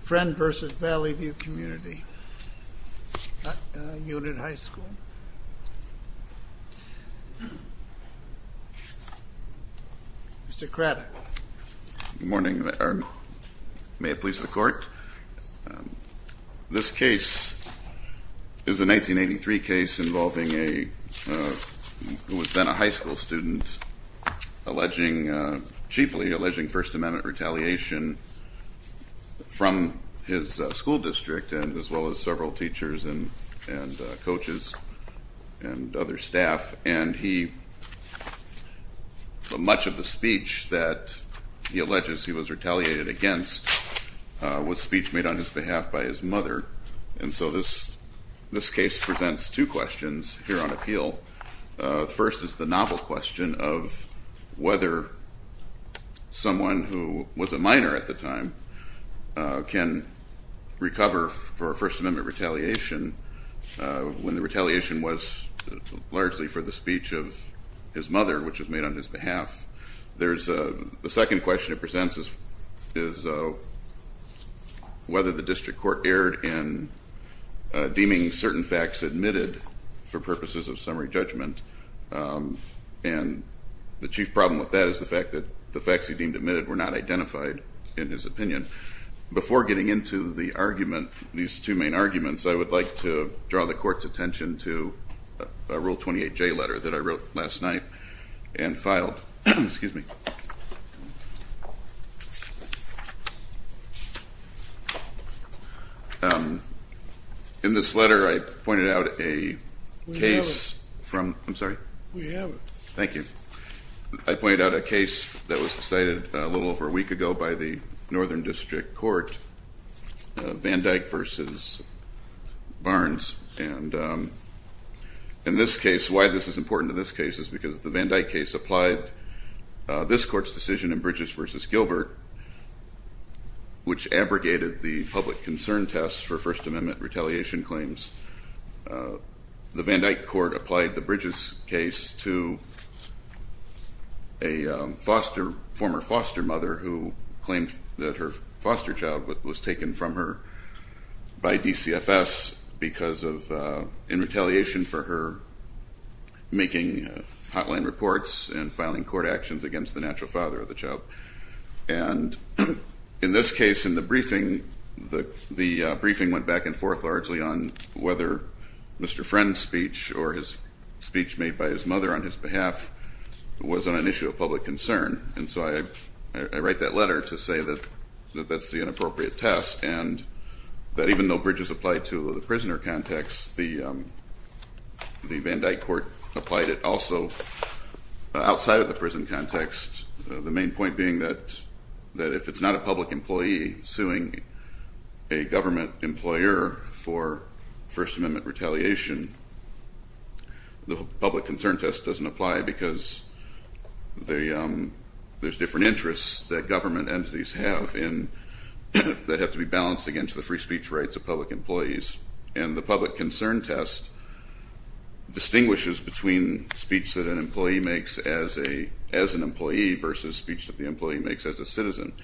Friend v. Valley View Community Unit High School. Mr. Craddock. Good morning. May it please the court. This case is a 1983 case involving a who was then a high school student alleging, chiefly alleging First Amendment retaliation from his school district and as well as several teachers and coaches and other staff and he much of the speech that he alleges he was retaliated against was speech made on his behalf by his mother. And so this this case presents two questions here on appeal. First is the novel question of whether someone who was a minor at the time can recover for First Amendment retaliation when the retaliation was largely for the speech of his mother which was made on his behalf. There's a second question it presents is whether the district court erred in deeming certain facts admitted for purposes of summary judgment and the chief problem with that is the fact that the facts he deemed admitted were not identified in his opinion. Before getting into the argument, these two main arguments, I would like to draw the court's attention to a Rule 28J letter that I wrote last night and filed, excuse me. In this letter I pointed out a case from, I'm sorry. We have it. Thank you. I pointed out a case that was decided a little over a week ago by the Northern District Court, Van Dyck versus Barnes. And in this case, why this is important in this case is because the Van Dyck case applied this court's decision in Bridges versus Gilbert which abrogated the public concern test for First Amendment retaliation claims. The Van Dyck court applied the Bridges case to a former foster mother who claimed that her foster child was taken from her by DCFS because of in retaliation for her making hotline reports and filing court actions against the natural father of the child. And in this case, in the briefing, the briefing went back and forth largely on whether Mr. Friend's speech or his speech made by his mother on his behalf was on an issue of public concern. And so I write that letter to say that that's the inappropriate test. And that even though Bridges applied to the prisoner context, the Van Dyck court applied it also outside of the prison context. The main point being that that if it's not a public employee suing a government employer for First Amendment retaliation, the public concern test doesn't apply because there's different interests that government entities have that have to be balanced against the free speech rights of public employees. And the public concern test distinguishes between speech that an employee makes as an employee versus speech that the employee makes as a citizen.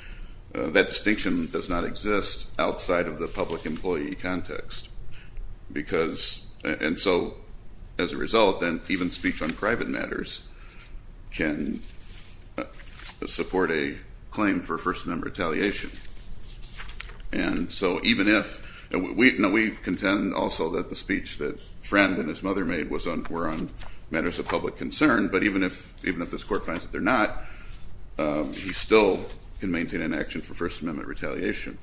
That distinction does not exist outside of the public employee context. Because, and so as a result, then even speech on private matters can support a claim for First Amendment retaliation. And so even if, and we contend also that the speech that Friend and his mother made were on matters of public concern, but even if this court finds that they're not, he still can maintain an action for First Amendment retaliation.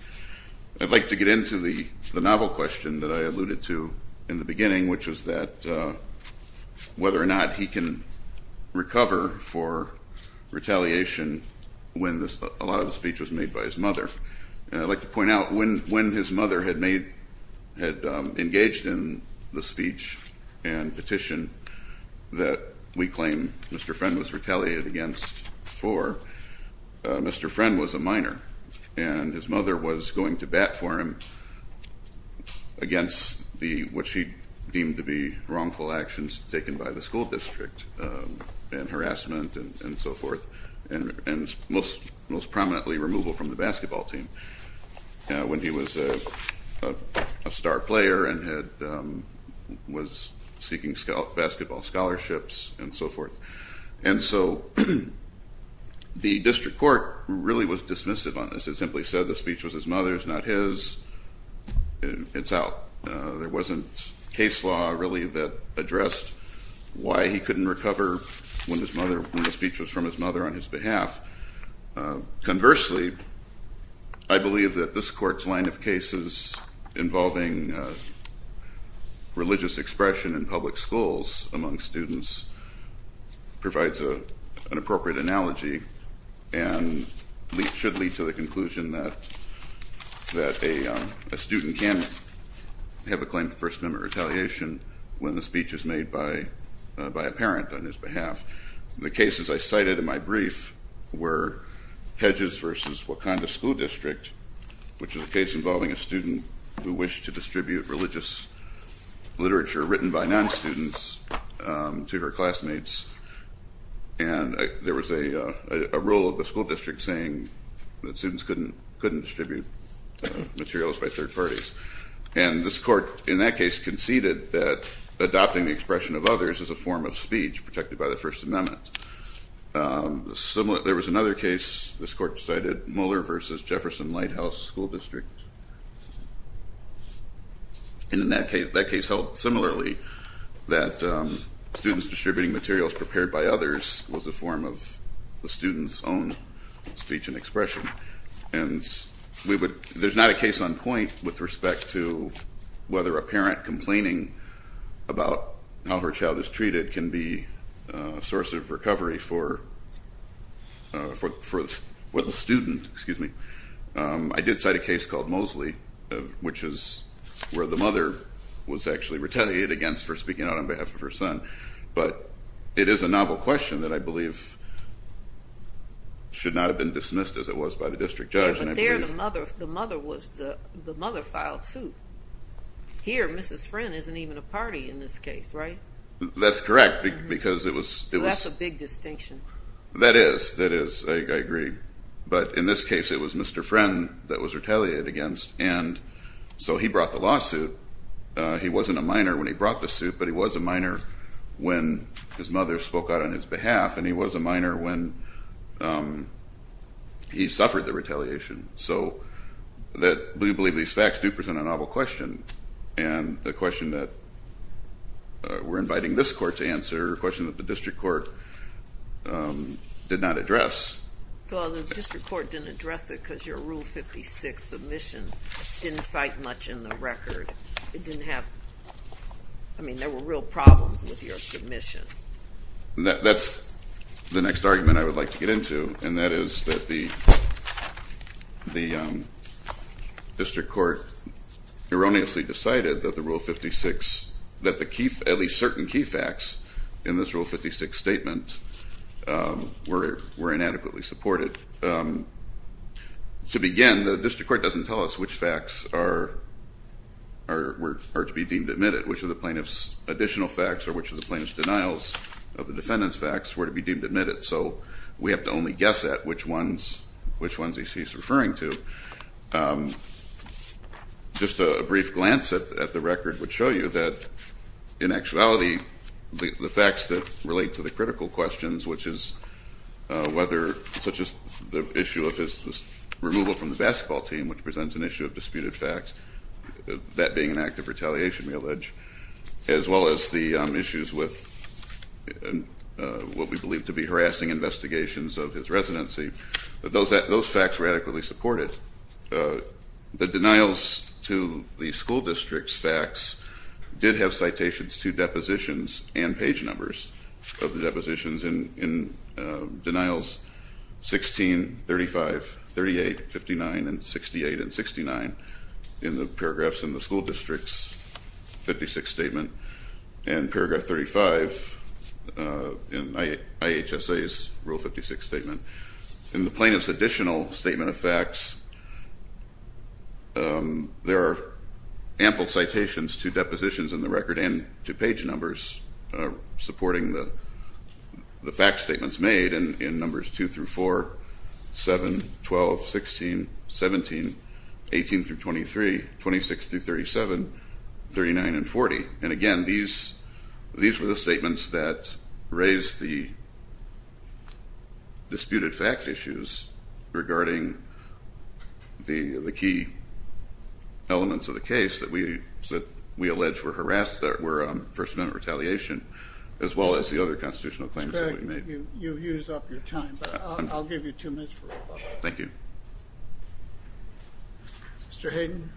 I'd like to get into the novel question that I alluded to in the beginning, which was that whether or not he can recover for retaliation when a lot of the speech was made by his mother. And I'd like to point out when his mother had made, had engaged in the speech and petition that we claim Mr. Friend was retaliated against for, Mr. Friend was a minor and his mother was going to bat for him against the, what she deemed to be wrongful actions taken by the school district and harassment and so forth. And most prominently removal from the basketball team when he was a star player and was seeking basketball scholarships and so forth. And so the district court really was dismissive on this. It simply said the speech was his mother's, not his. It's out. There wasn't case law really that addressed why he couldn't recover when his mother, when the speech was from his mother on his behalf. Conversely, I believe that this court's line of cases involving religious expression in public schools among students provides an appropriate analogy and should lead to the conclusion that a student can have a claim for first member retaliation when the speech is made by a parent on his behalf. The cases I cited in my brief were Hedges versus Wakanda School District, which is a case involving a student who wished to distribute religious literature written by non-students to her classmates. And there was a rule of the school district saying that students couldn't distribute materials by third parties. And this court in that case conceded that adopting the expression of others is a form of speech protected by the First Amendment. There was another case this court cited, Muller versus Jefferson Lighthouse School District. And in that case held similarly that students distributing materials prepared by others was a form of the student's own speech and expression. And there's not a case on point with respect to whether a parent complaining about how her child is treated can be a source of recovery for the student. I did cite a case called Mosley, which is where the mother was actually retaliated against for speaking out on behalf of her son. But it is a novel question that I believe should not have been dismissed as it was by the district judge. But there the mother filed suit. Here Mrs. Friend isn't even a party in this case, right? That's correct because it was... That's a big distinction. That is, I agree. But in this case it was Mr. Friend that was retaliated against. And so he brought the lawsuit. He wasn't a minor when he brought the suit, but he was a minor when his mother spoke out on his behalf. And he was a minor when he suffered the retaliation. So we believe these facts do present a novel question. And the question that we're inviting this court to answer, a question that the district court did not address. Well, the district court didn't address it because your Rule 56 submission didn't cite much in the record. It didn't have... I mean, there were real problems with your submission. That's the next argument I would like to get into. And that is that the district court erroneously decided that the Rule 56, that the key, at least certain key facts in this Rule 56 statement were inadequately supported. To begin, the district court doesn't tell us which facts are to be deemed admitted. Which of the plaintiff's additional facts or which of the plaintiff's denials of the defendant's facts were to be deemed admitted. So we have to only guess at which ones he's referring to. Just a brief glance at the record would show you that in actuality, the facts that relate to the critical questions, which is whether, such as the issue of his removal from the basketball team, which presents an issue of disputed facts, that being an act of retaliation, we allege, as well as the issues with what we believe to be harassing investigations of his residency. Those facts were adequately supported. The denials to the school district's facts did have citations to depositions and page numbers of the depositions in denials 16, 35, 38, 59, and 68 and 69 in the paragraphs in the school district's 56 statement and paragraph 35 in IHSA's Rule 56 statement. In the plaintiff's additional statement of facts, there are ample citations to depositions in the record and to page numbers supporting the fact statements made in numbers 2 through 4, 7, 12, 16, 17, 18 through 23, 26 through 37, 39, and 40. And again, these were the statements that raised the disputed fact issues regarding the key elements of the case that we allege were harassed, that were first amendment retaliation, as well as the other constitutional claims that we made. Mr. Craddick, you've used up your time, but I'll give you two minutes for rebuttal. Thank you. Mr. Hayden.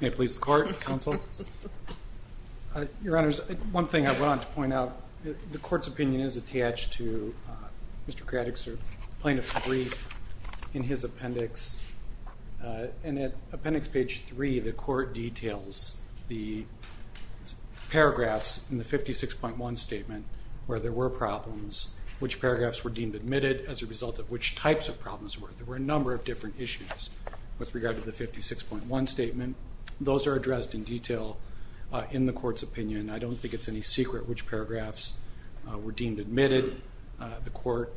May it please the Court, Counsel. Your Honors, one thing I want to point out, the Court's opinion is attached to Mr. Craddick's plaintiff's brief in his appendix, and at appendix page 3, the Court details the paragraphs in the 56.1 statement where there were problems, which paragraphs were deemed admitted as a result of which types of problems were. There were a number of different issues with regard to the 56.1 statement. Those are addressed in detail in the Court's opinion. I don't think it's any secret which paragraphs were deemed admitted. The Court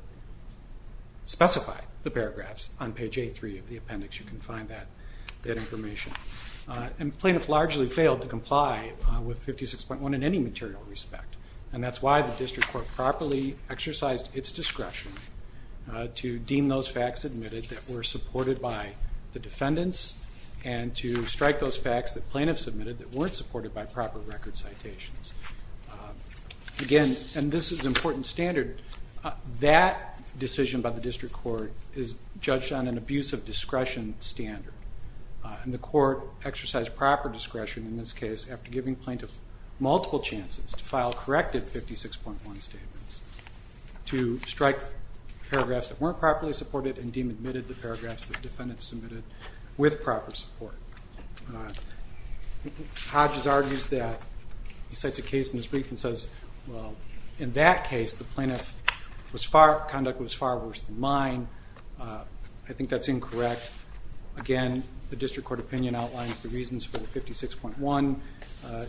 specified the paragraphs on page A3 of the appendix. You can find that information. And plaintiff largely failed to comply with 56.1 in any material respect. And that's why the District Court properly exercised its discretion to deem those facts admitted that were supported by the defendants and to strike those facts that plaintiffs submitted that weren't supported by proper record citations. Again, and this is important standard, that decision by the District Court is judged on an abuse of discretion standard. And the Court exercised proper discretion in this case after giving plaintiffs multiple chances to file corrected 56.1 statements, to strike paragraphs that weren't properly supported and deem admitted the paragraphs the defendants submitted with proper support. Hodges argues that, he cites a case in his brief and says, well, in that case the conduct was far worse than mine. I think that's incorrect. Again, the District Court opinion outlines the reasons for the 56.1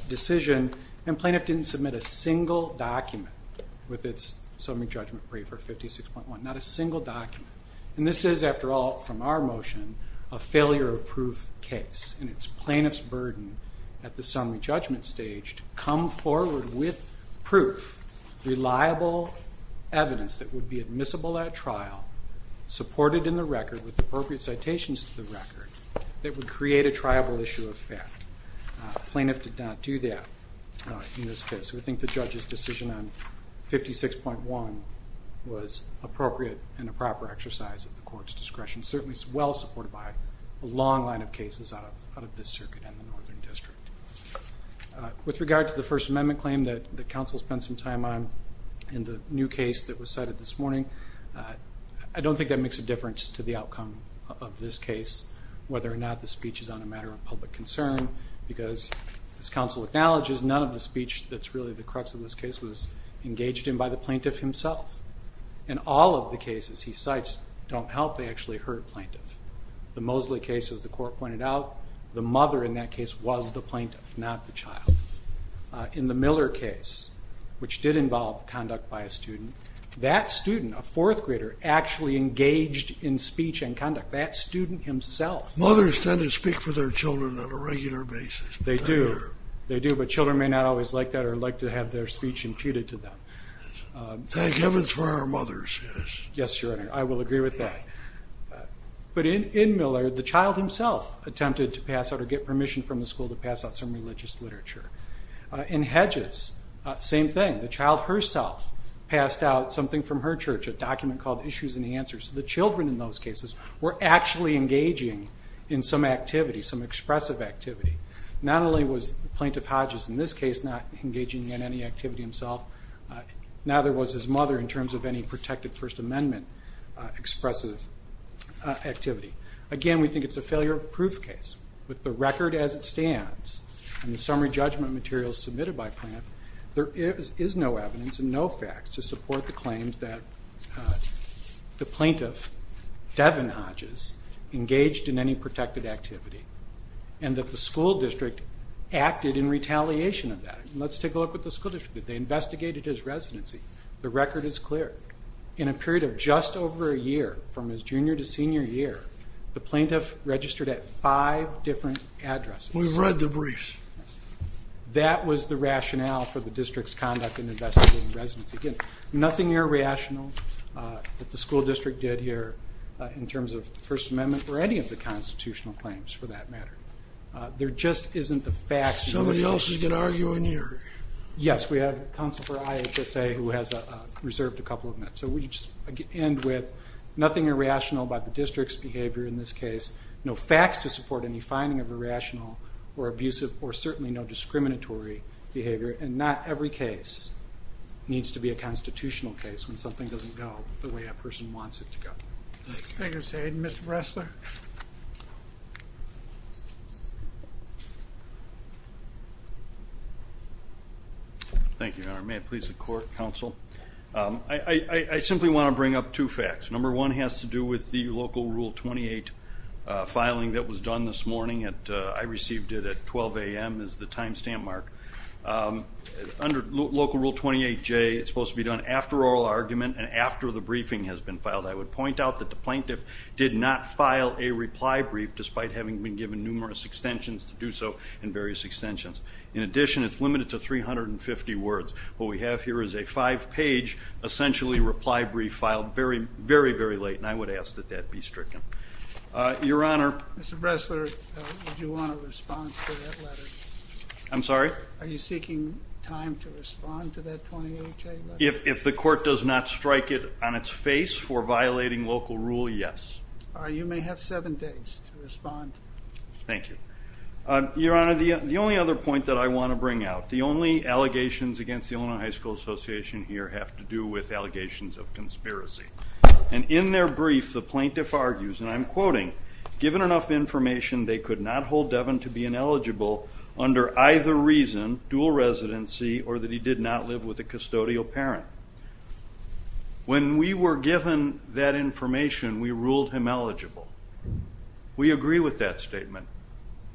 decision. And plaintiff didn't submit a single document with its summary judgment brief for 56.1, not a single document. And this is, after all, from our motion, a failure of proof case. And it's plaintiff's burden at the summary judgment stage to come forward with proof, reliable evidence that would be admissible at trial, supported in the record with appropriate citations to the record, that would create a triable issue of fact. Plaintiff did not do that in this case. So we think the judge's decision on 56.1 was appropriate and a proper exercise of the Court's discretion. Certainly, it's well supported by a long line of cases out of this circuit and the Northern District. With regard to the First Amendment claim that the counsel spent some time on in the new case that was cited this morning, I don't think that makes a difference to the outcome of this case, whether or not the speech is on a matter of public concern because, as counsel acknowledges, none of the speech that's really the crux of this case was engaged in by the plaintiff himself. In all of the cases he cites, don't help, they actually hurt plaintiff. The Mosley case, as the Court pointed out, the mother in that case was the plaintiff, not the child. In the Miller case, which did involve conduct by a student, that student, a fourth grader, actually engaged in speech and conduct. That student himself... Mothers tend to speak for their children on a regular basis. They do. They do, but children may not always like that or like to have their speech imputed to them. Thank heavens for our mothers, yes. Yes, Your Honor, I will agree with that. But in Miller, the child himself attempted to pass out or get permission from the school to pass out some religious literature. In Hedges, same thing. The child herself passed out something from her church, a document called Issues and Answers. The children in those cases were actually engaging in some activity, some expressive activity. Not only was Plaintiff Hodges in this case not engaging in any activity himself, neither was his mother in terms of any protected First Amendment expressive activity. Again, we think it's a failure of proof case. With the record as it stands and the summary judgment materials submitted by Plaintiff, there is no evidence and no facts to support the claims that the plaintiff, Devin Hodges, engaged in any protected activity and that the school district acted in retaliation of that. And let's take a look at the school district. They investigated his residency. The record is clear. In a period of just over a year, from his junior to senior year, the plaintiff registered at five different addresses. We've read the briefs. That was the rationale for the district's conduct in investigating residency. Again, nothing irrational that the school district did here in terms of First Amendment or any of the constitutional claims for that matter. There just isn't the facts. Somebody else is going to argue in here. Yes, we have counsel for IHSA who has reserved a couple of minutes. So we just end with nothing irrational about the district's behavior in this case. No facts to support any finding of irrational or abusive or certainly no discriminatory behavior. And not every case needs to be a constitutional case when something doesn't go the way that person wants it to go. Thank you, Mr. Hayden. Mr. Bressler. Thank you, Your Honor. May it please the court, counsel. I simply want to bring up two facts. Number one has to do with the Local Rule 28 filing that was done this morning. I received it at 12 a.m. as the time stamp mark. Under Local Rule 28J, it's supposed to be done after oral argument and after the briefing has been filed. I would point out that the plaintiff did not file a reply brief despite having been given numerous extensions to do so and various extensions. In addition, it's limited to 350 words. What we have here is a five-page essentially reply brief filed very, very, very late. And I would ask that that be stricken. Your Honor. Mr. Bressler, would you want a response to that letter? I'm sorry? Are you seeking time to respond to that 28J letter? If the court does not strike it on its face for violating Local Rule, yes. You may have seven days to respond. Thank you. Your Honor, the only other point that I want to bring out, the only allegations against the Illinois High School Association here have to do with allegations of conspiracy. And in their brief, the plaintiff argues, and I'm quoting, given enough information, they could not hold Devin to be ineligible under either reason, dual residency, or that he did not live with a custodial parent. When we were given that information, we ruled him eligible. We agree with that statement.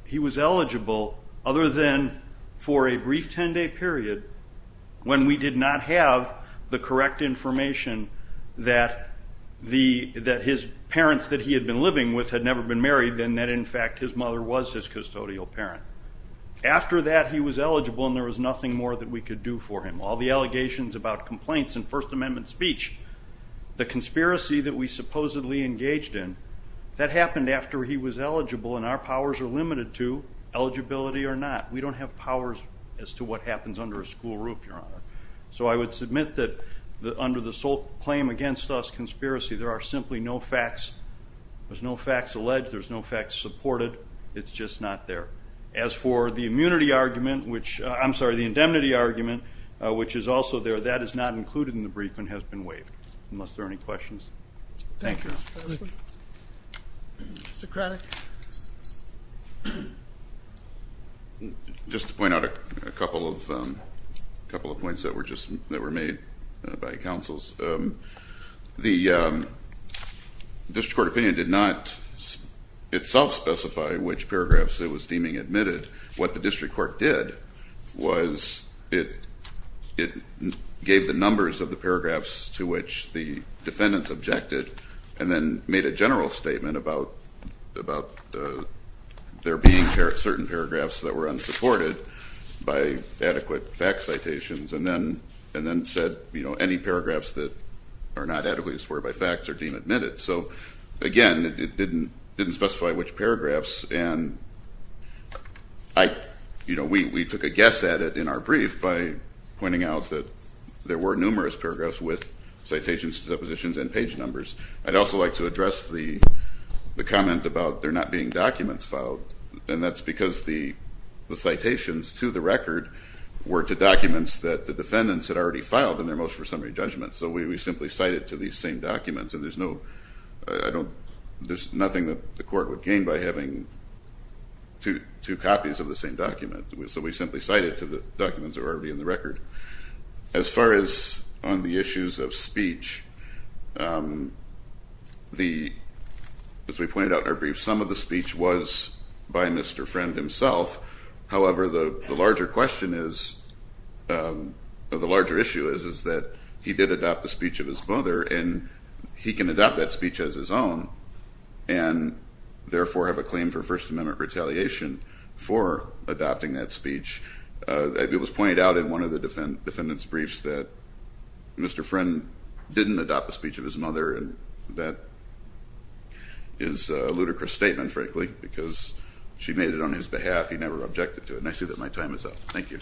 He was eligible other than for a brief 10-day period when we did not have the correct information that his parents that he had been living with had never been married, and that, in fact, his mother was his custodial parent. After that, he was eligible and there was nothing more that we could do for him. All the allegations about complaints and First Amendment speech, the conspiracy that we supposedly engaged in, that happened after he was eligible and our powers are limited to eligibility or not. We don't have powers as to what happens under a school roof, Your Honor. So I would submit that under the sole claim against us, conspiracy, there are simply no facts. There's no facts alleged. There's no facts supported. It's just not there. As for the immunity argument, which I'm sorry, the indemnity argument, which is also there, that is not included in the brief and has been waived, unless there are any questions. Thank you. Mr. Craddick. Just to point out a couple of points that were made by counsels. The District Court opinion did not itself specify which paragraphs it was deeming admitted. What the District Court did was it gave the numbers of the paragraphs to which the defendants objected and then made a general statement about there being certain paragraphs that were unsupported by adequate fact citations and then said any paragraphs that are not adequately supported by facts are deemed admitted. So again, it didn't specify which paragraphs and we took a guess at it in our brief by pointing out that there were numerous paragraphs with citations, depositions and page numbers. I'd also like to address the comment about there not being documents filed and that's because the citations to the record were to documents that the defendants had already filed in their motion for summary judgment. So we simply cite it to these same documents and there's no, I don't, there's nothing that the court would gain by having two copies of the same document. So we simply cite it to the documents that were already in the record. As far as on the issues of speech, the, as we pointed out in our brief, some of the speech was by Mr. Friend himself. However, the larger question is, or the larger issue is, is that he did adopt the speech of his mother and he can adopt that speech as his own and therefore have a claim for First Amendment retaliation for adopting that speech. It was pointed out in one of the defendants' briefs that Mr. Friend didn't adopt the speech of his mother. And that is a ludicrous statement, frankly, because she made it on his behalf. He never objected to it. And I see that my time is up. Thank you.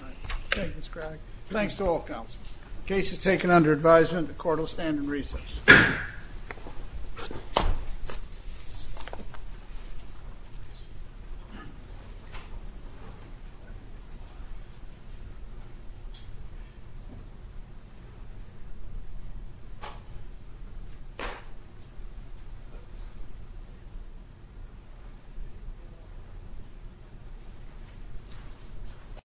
Thanks to all counselors. Case is taken under advisement. The court will stand in recess. Thank you.